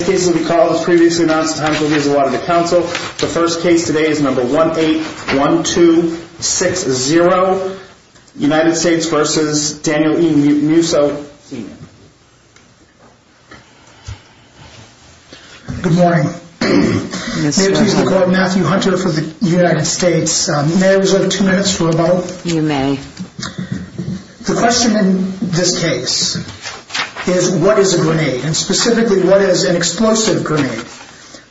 Good morning. Matthew Hunter for the United States. May I reserve two minutes for a moment? You may. The question in this case is what is a grenade, and specifically what is an explosive grenade?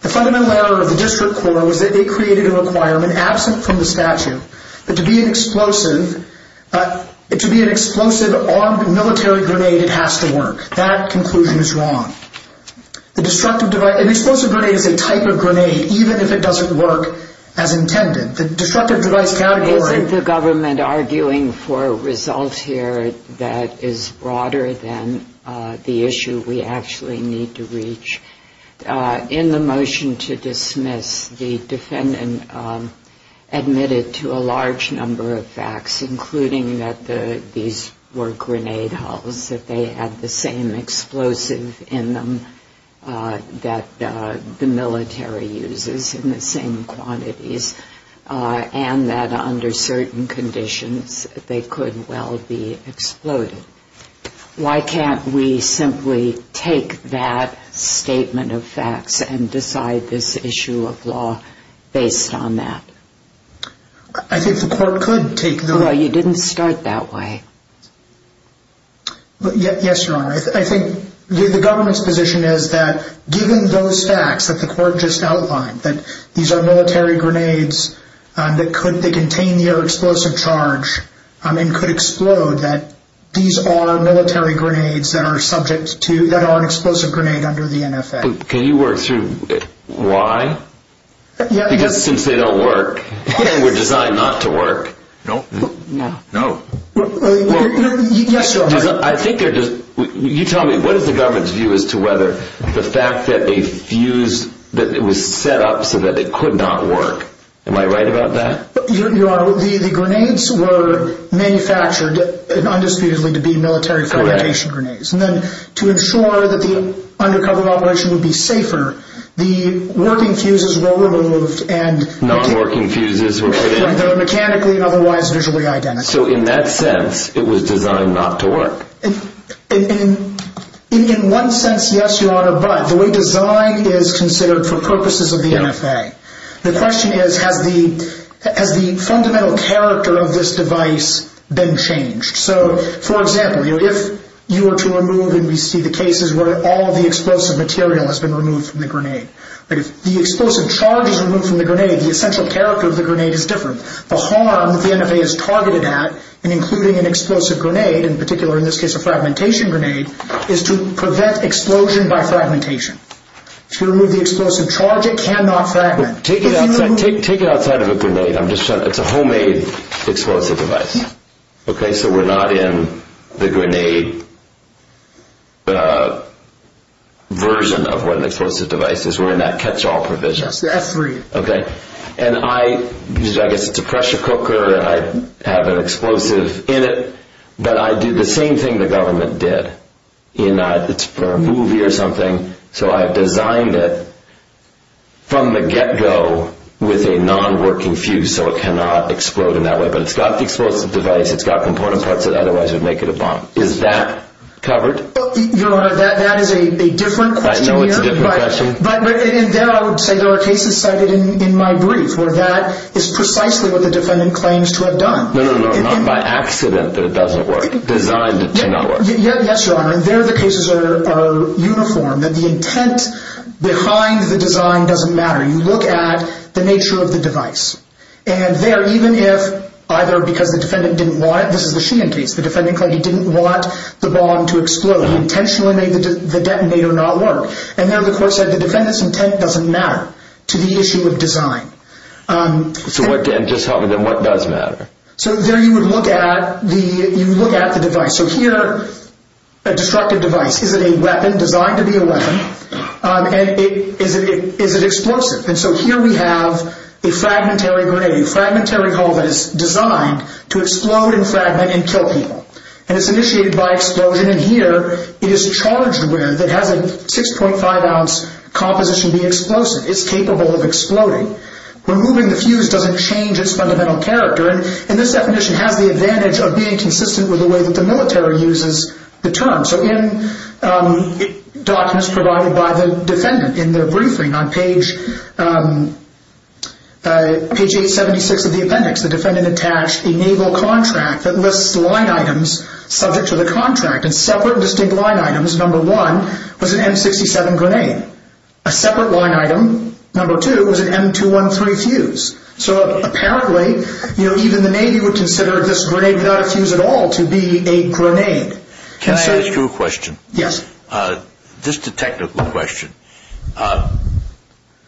The fundamental error of the district court was that it created a requirement absent from the statute that to be an explosive armed military grenade it has to work. That conclusion is wrong. An explosive grenade is a type of grenade even if it doesn't work as intended. The destructive device category... Is the government arguing for results here that is broader than the issue we actually need to reach? In the motion to dismiss, the defendant admitted to a large number of facts, including that these were grenade hulls, that they had the same explosive in them that the military uses in the same quantities, and that under certain conditions they could well be exploded. Why can't we simply take that statement of facts and decide this issue of law based on that? I think the court could take the... Well, you didn't start that way. Yes, Your Honor. I think the government's position is that given those facts that the court just outlined, that these are military grenades that contain the explosive charge and could explode, that these are military grenades that are an explosive grenade under the NFA. Can you work through why? Because since they don't work, they were designed not to work. Yes, Your Honor. You tell me, what is the government's view as to whether the fact that they fused, that it was set up so that it could not work. Am I right about that? Your Honor, the grenades were manufactured indisputably to be military fragmentation grenades. Correct. And then to ensure that the undercover operation would be safer, the working fuses were removed and... Non-working fuses were put in. They were mechanically and otherwise visually identical. So in that sense, it was designed not to work. In one sense, yes, Your Honor, but the way design is considered for purposes of the NFA. The question is, has the fundamental character of this device been changed? So, for example, if you were to remove, and we see the cases where all the explosive material has been removed from the grenade. If the explosive charge is removed from the grenade, the essential character of the grenade is different. The harm that the NFA is targeted at in including an explosive grenade, in particular in this case a fragmentation grenade, is to prevent explosion by fragmentation. If you remove the explosive charge, it cannot fragment. Take it outside of a grenade. It's a homemade explosive device. Okay, so we're not in the grenade version of what an explosive device is. We're in that catch-all provision. Yes, that's right. Okay. And I guess it's a pressure cooker. I have an explosive in it. But I did the same thing the government did in a movie or something. So I designed it from the get-go with a non-working fuse so it cannot explode in that way. But it's got the explosive device. It's got component parts that otherwise would make it a bomb. Is that covered? Your Honor, that is a different question here. I know it's a different question. But in there I would say there are cases cited in my brief where that is precisely what the defendant claims to have done. No, no, no. Not by accident that it doesn't work. Designed to not work. Yes, Your Honor. In there the cases are uniform, that the intent behind the design doesn't matter. You look at the nature of the device. And there even if either because the defendant didn't want it. This is the Sheehan case. The defendant claimed he didn't want the bomb to explode. He intentionally made the detonator not work. And there the court said the defendant's intent doesn't matter to the issue of design. So what does matter? So there you would look at the device. So here a destructive device. Is it a weapon designed to be a weapon? And is it explosive? And so here we have a fragmentary grenade. A fragmentary hull that is designed to explode and fragment and kill people. And it's initiated by explosion. And here it is charged with. It has a 6.5 ounce composition being explosive. It's capable of exploding. Removing the fuse doesn't change its fundamental character. And this definition has the advantage of being consistent with the way that the military uses the term. So in documents provided by the defendant in their briefing on page 876 of the appendix, the defendant attached a naval contract that lists line items subject to the contract. And separate distinct line items, number one, was an M67 grenade. A separate line item, number two, was an M213 fuse. So apparently even the Navy would consider this grenade without a fuse at all to be a grenade. Can I ask you a question? Yes. Just a technical question.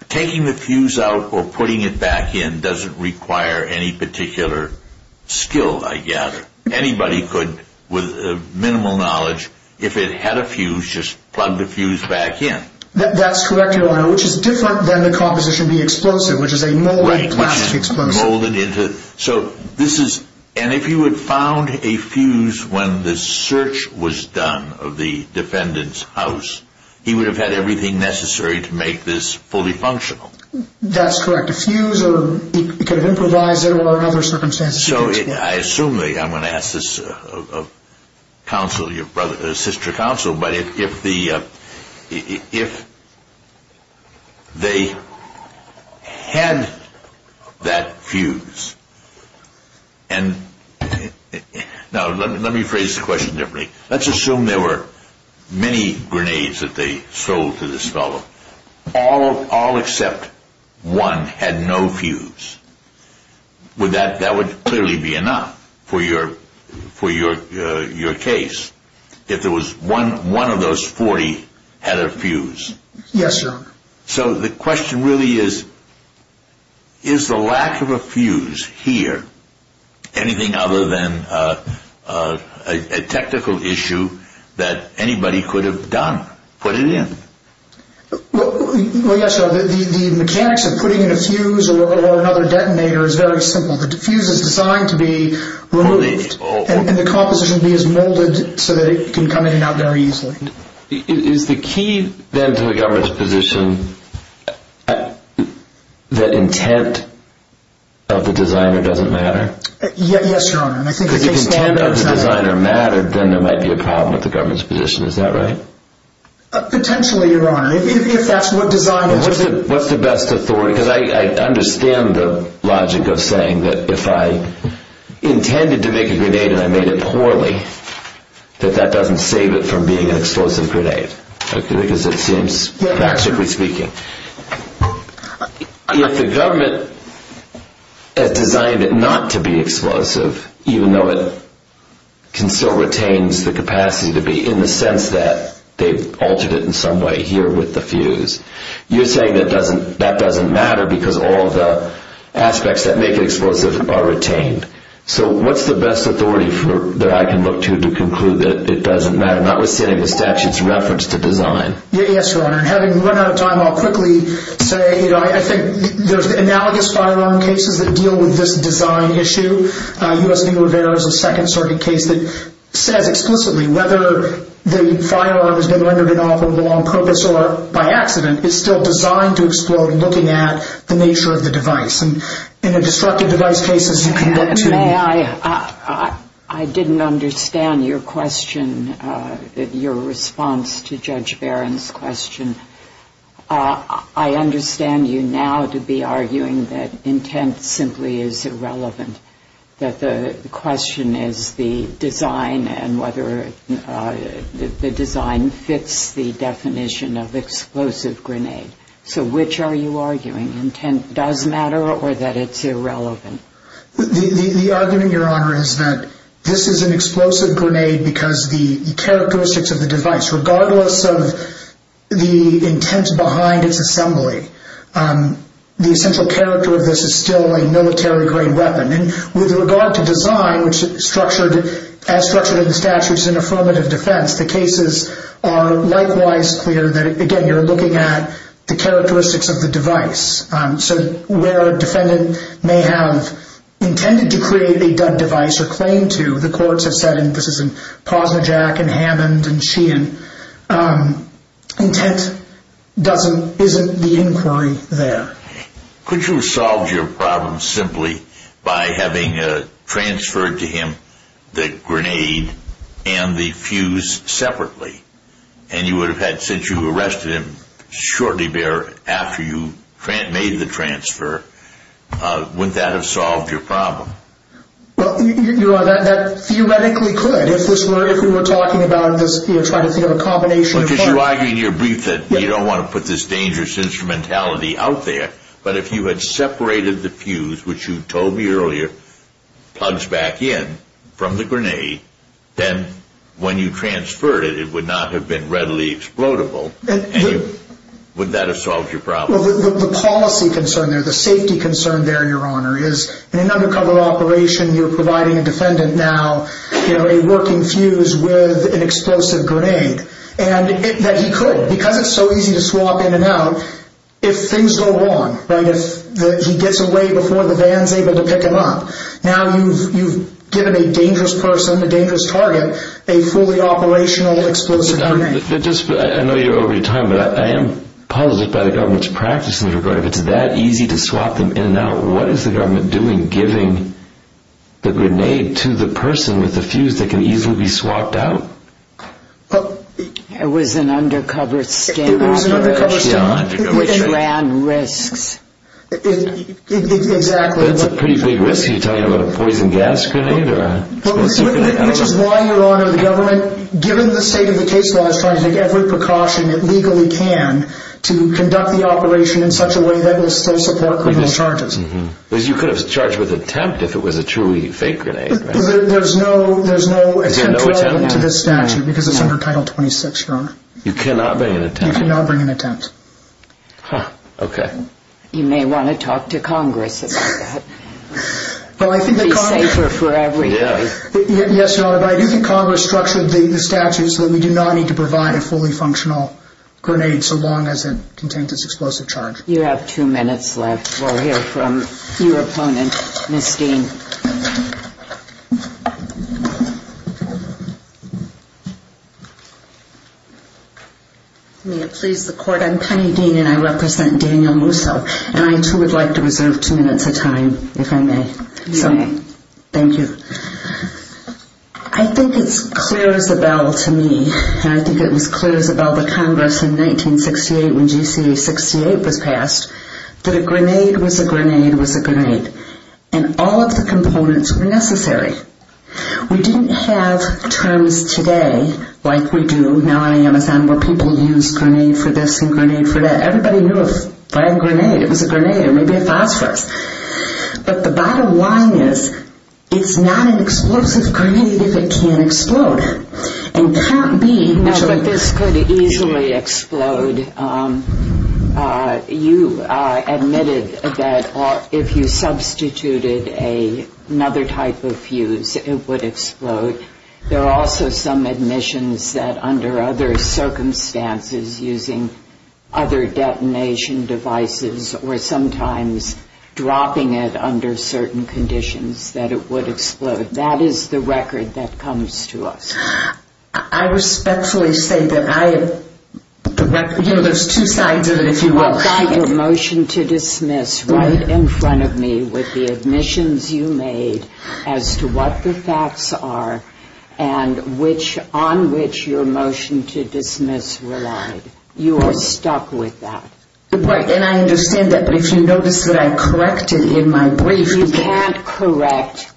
Taking the fuse out or putting it back in doesn't require any particular skill, I guess. Anybody could, with minimal knowledge, if it had a fuse, just plug the fuse back in. That's correct, Your Honor, which is different than the composition being explosive, which is a molded plastic explosive. And if you had found a fuse when the search was done of the defendant's house, he would have had everything necessary to make this fully functional. That's correct. A fuse, or he could have improvised it under other circumstances. So I assume, I'm going to ask this sister counsel, but if they had that fuse, and now let me phrase the question differently. Let's assume there were many grenades that they sold to this fellow. All except one had no fuse. That would clearly be enough for your case if one of those 40 had a fuse. Yes, Your Honor. So the question really is, is the lack of a fuse here anything other than a technical issue that anybody could have done? Put it in. Well, yes, Your Honor. The mechanics of putting in a fuse or another detonator is very simple. The fuse is designed to be removed, and the composition is molded so that it can come in and out very easily. Is the key, then, to the government's position that intent of the designer doesn't matter? Yes, Your Honor. Because if the intent of the designer mattered, then there might be a problem with the government's position. Is that right? Potentially, Your Honor. If that's what designers do. What's the best authority? Because I understand the logic of saying that if I intended to make a grenade and I made it poorly, that that doesn't save it from being an explosive grenade. Because it seems, practically speaking. If the government has designed it not to be explosive, even though it still retains the capacity to be in the sense that they've altered it in some way here with the fuse, you're saying that that doesn't matter because all of the aspects that make it explosive are retained. So what's the best authority that I can look to to conclude that it doesn't matter? Notwithstanding the statute's reference to design. Yes, Your Honor. And having run out of time, I'll quickly say, you know, I think there's analogous firearm cases that deal with this design issue. U.S. v. Rivera's a Second Circuit case that says explicitly whether the firearm has been rendered inoffensively on purpose or by accident is still designed to explode looking at the nature of the device. And in the destructive device cases you can look to. May I? I didn't understand your question, your response to Judge Barron's question. I understand you now to be arguing that intent simply is irrelevant, that the question is the design and whether the design fits the definition of explosive grenade. So which are you arguing, intent does matter or that it's irrelevant? The argument, Your Honor, is that this is an explosive grenade because the characteristics of the device, regardless of the intent behind its assembly, the essential character of this is still a military-grade weapon. And with regard to design, which as structured in the statute is an affirmative defense, the cases are likewise clear that, again, you're looking at the characteristics of the device. So where a defendant may have intended to create a device or claim to, the courts have said, and this is in Posnerjack and Hammond and Sheehan, intent isn't the inquiry there. Could you have solved your problem simply by having transferred to him the grenade and the fuse separately? And you would have had, since you arrested him shortly thereafter you made the transfer, wouldn't that have solved your problem? Well, Your Honor, that theoretically could. If we were talking about trying to think of a combination of parts. Because you argue in your brief that you don't want to put this dangerous instrumentality out there, but if you had separated the fuse, which you told me earlier plugs back in from the grenade, then when you transferred it, it would not have been readily explodable. And would that have solved your problem? The policy concern there, the safety concern there, Your Honor, is in an undercover operation, you're providing a defendant now a working fuse with an explosive grenade. And that he could, because it's so easy to swap in and out, if things go wrong, if he gets away before the van is able to pick him up, now you've given a dangerous person, a dangerous target, a fully operational explosive grenade. I know you're over your time, but I am positive by the government's practice in this regard. If it's that easy to swap them in and out, what is the government doing giving the grenade to the person with the fuse that can easily be swapped out? It was an undercover sting operation. It ran risks. That's a pretty big risk, are you talking about a poison gas grenade? Which is why, Your Honor, the government, given the state of the case law, is trying to take every precaution it legally can to conduct the operation in such a way that will still support criminal charges. Because you could have charged with attempt if it was a truly fake grenade. There's no attempt to this statute because it's under Title 26, Your Honor. You cannot bring an attempt? You cannot bring an attempt. You may want to talk to Congress about that. It would be safer for everybody. Yes, Your Honor, but I do think Congress structured the statute so that we do not need to provide a fully functional grenade so long as it contains its explosive charge. You have two minutes left. We'll hear from your opponent, Ms. Dean. May it please the Court, I'm Penny Dean and I represent Daniel Musso. And I, too, would like to reserve two minutes of time, if I may. You may. Thank you. I think it's clear as a bell to me, and I think it was clear as a bell to Congress in 1968 when GCA 68 was passed, that a grenade was a grenade was a grenade. And all of the components were necessary. We didn't have terms today like we do now on Amazon where people use grenade for this and grenade for that. Everybody knew a flying grenade. It was a grenade. It may be a phosphorus. But the bottom line is, it's not an explosive grenade if it can't explode. It can't be. No, but this could easily explode. You admitted that if you substituted another type of fuse, it would explode. There are also some admissions that under other circumstances, using other detonation devices or sometimes dropping it under certain conditions, that it would explode. That is the record that comes to us. I respectfully say that I, you know, there's two sides of it, if you will. You've got your motion to dismiss right in front of me with the admissions you made as to what the facts are and on which your motion to dismiss relied. You are stuck with that. And I understand that, but if you notice that I corrected in my brief. You can't correct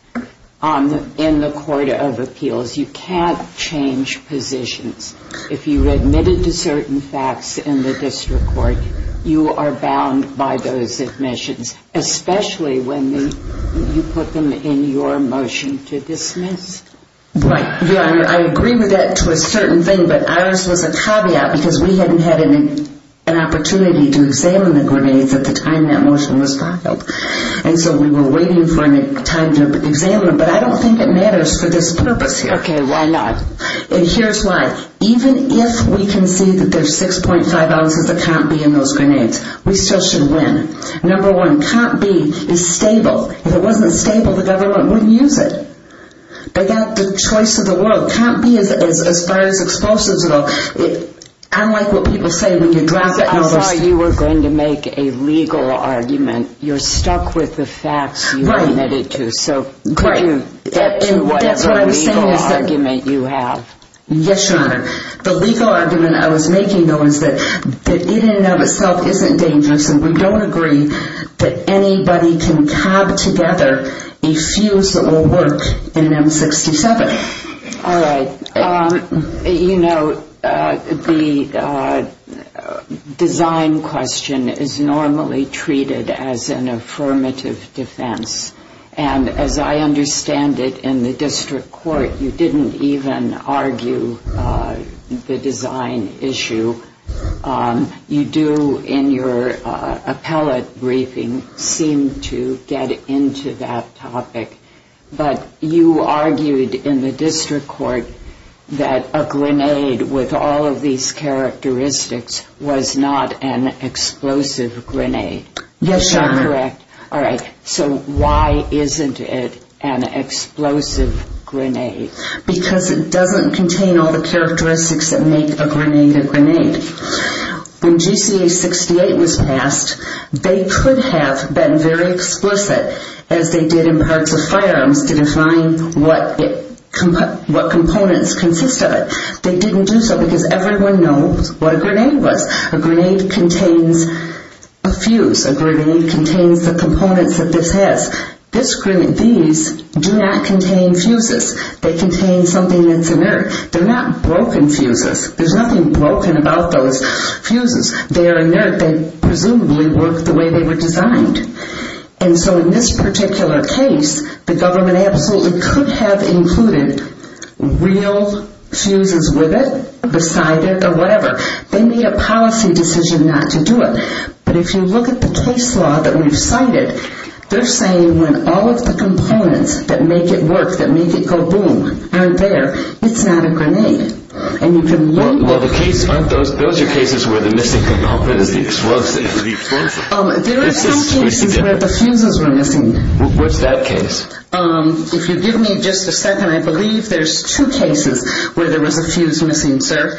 in the court of appeals. You can't change positions. If you admitted to certain facts in the district court, you are bound by those admissions, especially when you put them in your motion to dismiss. Right. Yeah, I agree with that to a certain thing, but ours was a caveat because we hadn't had an opportunity to examine the grenades at the time that motion was filed. And so we were waiting for a time to examine them. But I don't think it matters for this purpose here. Okay. Why not? And here's why. Even if we can see that there's 6.5 ounces of Comp B in those grenades, we still should win. Number one, Comp B is stable. If it wasn't stable, the government wouldn't use it. They got the choice of the world. Comp B is as far as explosives go. I like what people say when you drop it in the sea. I'm sorry, you were going to make a legal argument. You're stuck with the facts you admitted to. Right. That's what I was saying. To whatever legal argument you have. Yes, Your Honor. The legal argument I was making, though, is that it in and of itself isn't dangerous, and we don't agree that anybody can cob together a fuse that will work in an M67. All right. You know, the design question is normally treated as an affirmative defense. And as I understand it in the district court, you didn't even argue the design issue. You do in your appellate briefing seem to get into that topic. But you argued in the district court that a grenade with all of these characteristics was not an explosive grenade. Yes, Your Honor. Correct. All right. So why isn't it an explosive grenade? Because it doesn't contain all the characteristics that make a grenade a grenade. When GCA 68 was passed, they could have been very explicit, as they did in parts of firearms, to define what components consist of it. They didn't do so because everyone knows what a grenade was. A grenade contains a fuse. A grenade contains the components that this has. These do not contain fuses. They contain something that's inert. They're not broken fuses. There's nothing broken about those fuses. They are inert. They presumably work the way they were designed. And so in this particular case, the government absolutely could have included real fuses with it, beside it, or whatever. They made a policy decision not to do it. But if you look at the case law that we've cited, they're saying when all of the components that make it work, that make it go boom, aren't there, it's not a grenade. Well, those are cases where the missing component is the explosive. There are some cases where the fuses were missing. What's that case? If you give me just a second, I believe there's two cases where there was a fuse missing, sir.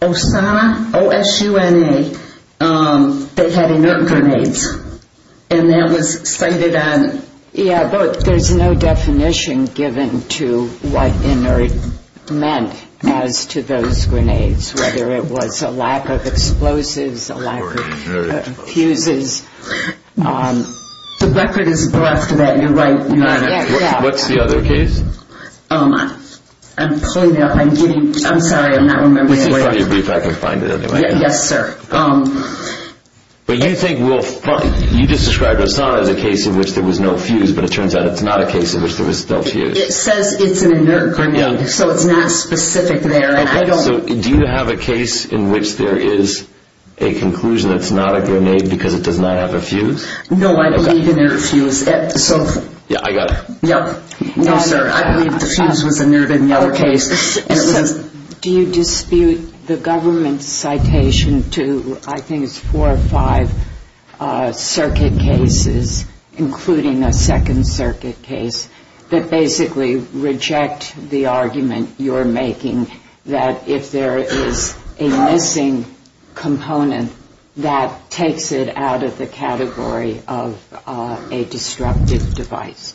Osana, O-S-U-N-A, they had inert grenades. And that was cited on... Yeah, but there's no definition given to what inert meant as to those grenades, whether it was a lack of explosives, a lack of fuses. The record is brought to that. You're right. What's the other case? I'm pulling it up. I'm getting... I'm sorry, I'm not remembering it. Let me see if I can find it anyway. Yes, sir. You just described Osana as a case in which there was no fuse, but it turns out it's not a case in which there was still a fuse. It says it's an inert grenade, so it's not specific there. Okay, so do you have a case in which there is a conclusion that it's not a grenade because it does not have a fuse? No, I believe an inert fuse. Yeah, I got it. No, sir, I believe the fuse was inert in the other case. Do you dispute the government's citation to, I think it's four or five circuit cases, including a Second Circuit case, that basically reject the argument you're making that if there is a missing component, that takes it out of the category of a disruptive device?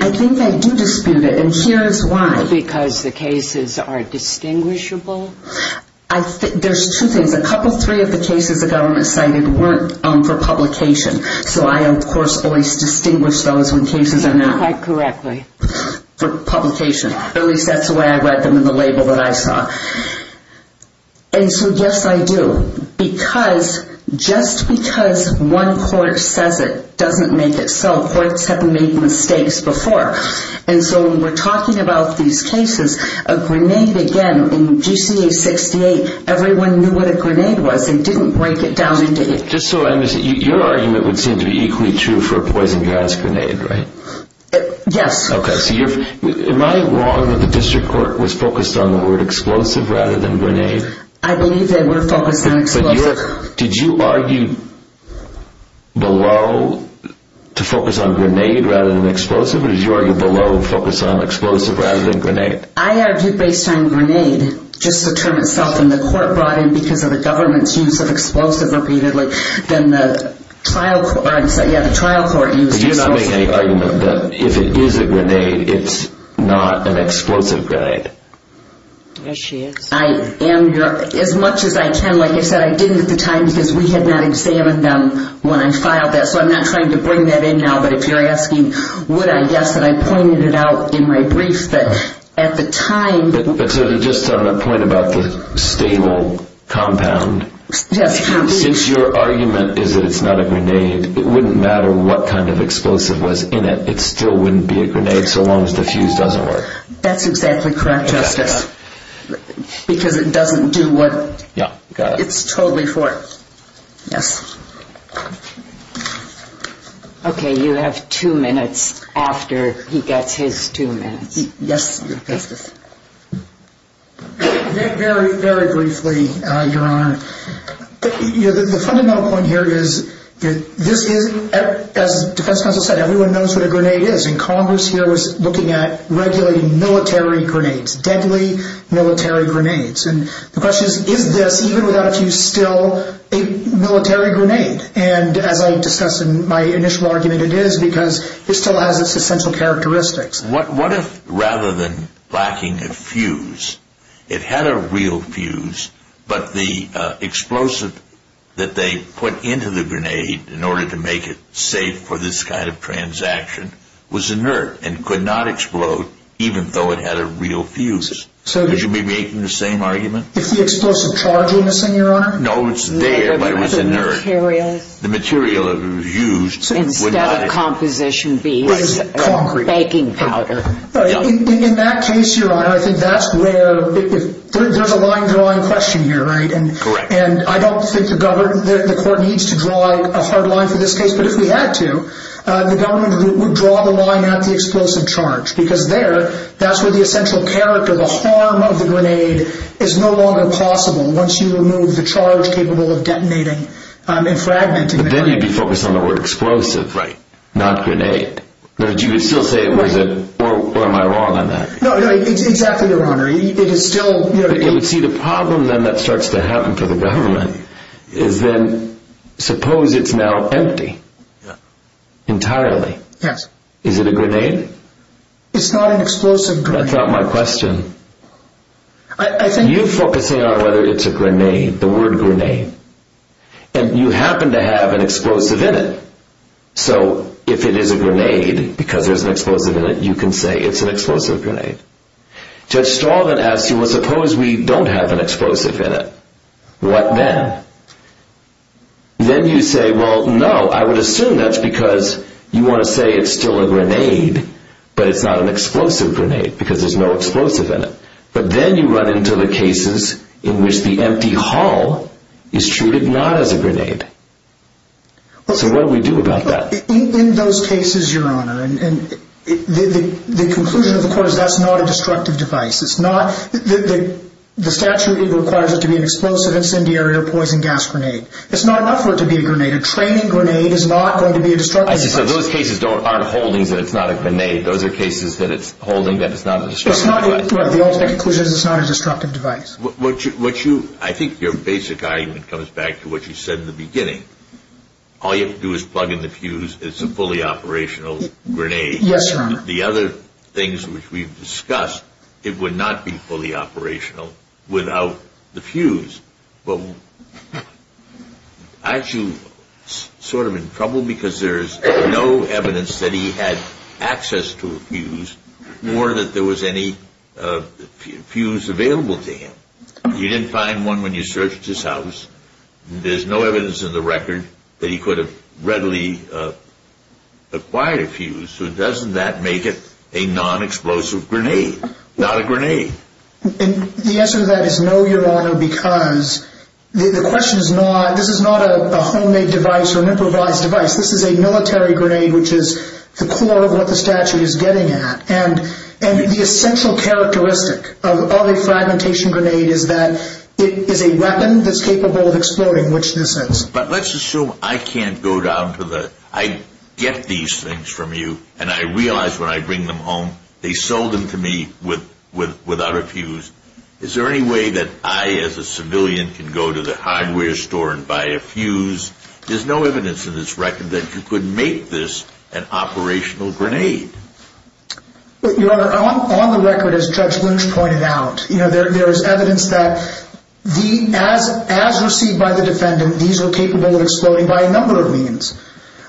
I think they do dispute it, and here is why. Because the cases are distinguishable? There's two things. A couple, three of the cases the government cited weren't for publication, so I, of course, always distinguish those when cases are not... Quite correctly. ...for publication. At least that's the way I read them in the label that I saw. And so, yes, I do. Because just because one court says it doesn't make it so. Courts have made mistakes before. And so when we're talking about these cases, a grenade, again, in GCA 68, everyone knew what a grenade was. They didn't break it down into... Just so I understand, your argument would seem to be equally true for a poison gas grenade, right? Yes. Okay, so am I wrong that the district court was focused on the word explosive rather than grenade? I believe they were focused on explosive. But did you argue below to focus on grenade rather than explosive, or did you argue below to focus on explosive rather than grenade? I argued based on grenade, just to term itself, and the court brought in because of the government's use of explosive repeatedly. Then the trial court used explosive. So you're not making any argument that if it is a grenade, it's not an explosive grenade? Yes, she is. I am. As much as I can, like I said, I didn't at the time because we had not examined them when I filed that, so I'm not trying to bring that in now. But if you're asking would I, yes, and I pointed it out in my brief that at the time... But just on a point about the stable compound. Yes, please. Since your argument is that it's not a grenade, it wouldn't matter what kind of explosive was in it. It still wouldn't be a grenade so long as the fuse doesn't work. That's exactly correct, Justice, because it doesn't do what... Yeah, got it. It's totally for it. Yes. Okay, you have two minutes after he gets his two minutes. Yes, Justice. Very, very briefly, Your Honor. The fundamental point here is that this is, as Defense Counsel said, everyone knows what a grenade is, and Congress here was looking at regulating military grenades, deadly military grenades. And the question is, is this, even without a fuse, still a military grenade? And as I discussed in my initial argument, it is because it still has its essential characteristics. What if, rather than lacking a fuse, it had a real fuse, but the explosive that they put into the grenade in order to make it safe for this kind of transaction was inert and could not explode even though it had a real fuse? Would you be making the same argument? If the explosive charge were missing, Your Honor? No, it's there, but it was inert. The materials? The material that was used would not have... What would that composition be? Concrete. Baking powder. In that case, Your Honor, I think that's where there's a line-drawing question here, right? Correct. And I don't think the court needs to draw a hard line for this case, but if we had to, the government would draw the line at the explosive charge, because there, that's where the essential character, the harm of the grenade, is no longer possible once you remove the charge capable of detonating and fragmenting the grenade. Then you'd be focused on the word explosive. Right. Not grenade. You would still say, was it, or am I wrong on that? No, no, exactly, Your Honor. It is still... But you would see the problem then that starts to happen for the government is then, suppose it's now empty entirely. Yes. Is it a grenade? It's not an explosive grenade. That's not my question. I think... You're focusing on whether it's a grenade, the word grenade, and you happen to have an explosive in it. So, if it is a grenade, because there's an explosive in it, you can say it's an explosive grenade. Judge Stalvin asks you, well, suppose we don't have an explosive in it. What then? Then you say, well, no, I would assume that's because you want to say it's still a grenade, but it's not an explosive grenade, because there's no explosive in it. But then you run into the cases in which the empty hull is treated not as a grenade. So what do we do about that? In those cases, Your Honor, the conclusion of the court is that's not a destructive device. The statute requires it to be an explosive, incendiary, or poison gas grenade. It's not enough for it to be a grenade. A training grenade is not going to be a destructive device. I see, so those cases aren't holdings that it's not a grenade. Those are cases that it's holding that it's not a destructive device. The ultimate conclusion is it's not a destructive device. I think your basic argument comes back to what you said in the beginning. All you have to do is plug in the fuse, it's a fully operational grenade. Yes, Your Honor. The other things which we've discussed, it would not be fully operational without the fuse. But aren't you sort of in trouble because there's no evidence that he had access to a fuse or that there was any fuse available to him? You didn't find one when you searched his house. There's no evidence in the record that he could have readily acquired a fuse. So doesn't that make it a non-explosive grenade, not a grenade? The answer to that is no, Your Honor, because the question is not, this is not a homemade device or an improvised device. This is a military grenade which is the core of what the statute is getting at. And the essential characteristic of a fragmentation grenade is that it is a weapon that's capable of exploding, which this is. But let's assume I can't go down to the, I get these things from you and I realize when I bring them home they sold them to me without a fuse. Is there any way that I as a civilian can go to the hardware store and buy a fuse? There's no evidence in this record that you could make this an operational grenade. Your Honor, on the record as Judge Lynch pointed out, there is evidence that as received by the defendant, these are capable of exploding by a number of means.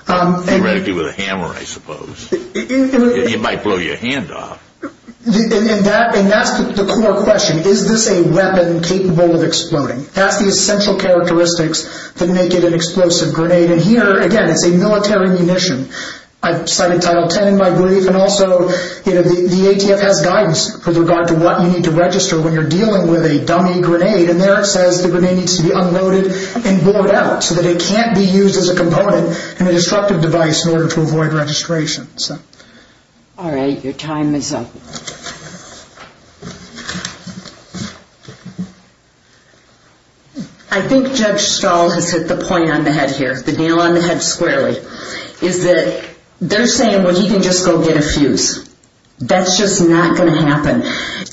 Theoretically with a hammer, I suppose. It might blow your hand off. And that's the core question. Is this a weapon capable of exploding? That's the essential characteristics that make it an explosive grenade. And here, again, it's a military munition. I cited Title 10 in my brief. And also the ATF has guidance with regard to what you need to register when you're dealing with a dummy grenade. And there it says the grenade needs to be unloaded and bored out so that it can't be used as a component in a destructive device in order to avoid registration. All right. Your time is up. I think Judge Stahl has hit the point on the head here, the nail on the head squarely, is that they're saying, well, he can just go get a fuse. That's just not going to happen.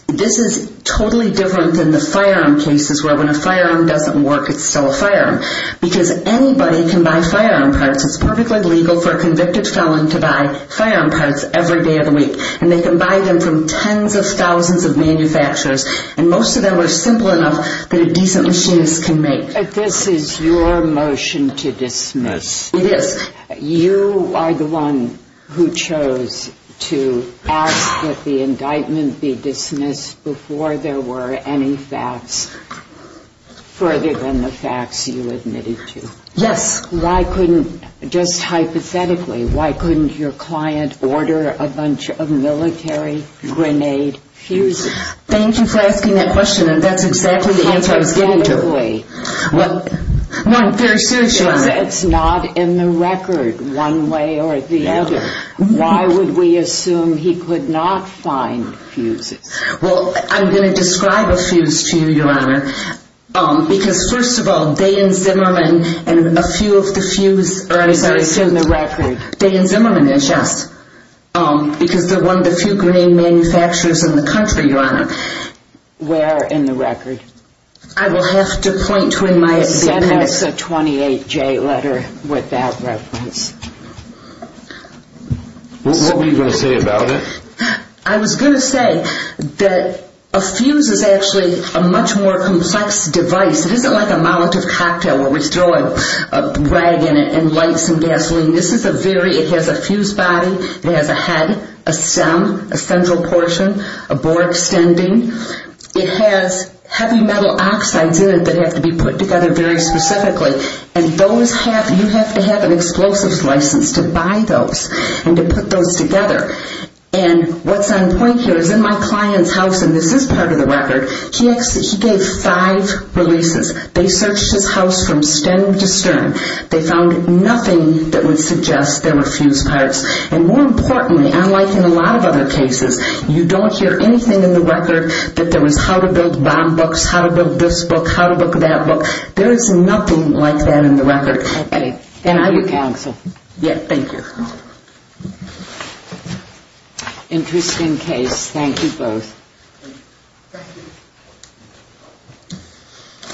This is totally different than the firearm cases where when a firearm doesn't work, it's still a firearm. Because anybody can buy firearm parts. It's perfectly legal for a convicted felon to buy firearm parts every day of the week. And they can buy them from tens of thousands of manufacturers. And most of them are simple enough that a decent machinist can make. But this is your motion to dismiss. It is. You are the one who chose to ask that the indictment be dismissed before there were any facts further than the facts you admitted to. Yes. Why couldn't, just hypothetically, why couldn't your client order a bunch of military grenade fuses? Thank you for asking that question. And that's exactly the answer I was getting to. Hypothetically. No, I'm very serious, Your Honor. It's not in the record one way or the other. No. Why would we assume he could not find fuses? Well, I'm going to describe a fuse to you, Your Honor. Because, first of all, Day and Zimmerman and a few of the fuse Is there a fuse in the record? Day and Zimmerman is, yes. Because they're one of the few grenade manufacturers in the country, Your Honor. Where in the record? I will have to point to it in my statement. It says it has a 28-J letter with that reference. What were you going to say about it? I was going to say that a fuse is actually a much more complex device. It isn't like a molotov cocktail where we throw a rag in it and light some gasoline. This is a very, it has a fuse body. It has a head, a stem, a central portion, a bore extending. It has heavy metal oxides in it that have to be put together very specifically. And those have, you have to have an explosives license to buy those and to put those together. And what's on point here is in my client's house, and this is part of the record, he gave five releases. They searched his house from stem to stem. They found nothing that would suggest there were fuse parts. And more importantly, unlike in a lot of other cases, you don't hear anything in the record that there was how to build bomb books, how to build this book, how to build that book. There is nothing like that in the record. Okay. And I will cancel. Yeah, thank you. Interesting case. Thank you both. Thank you.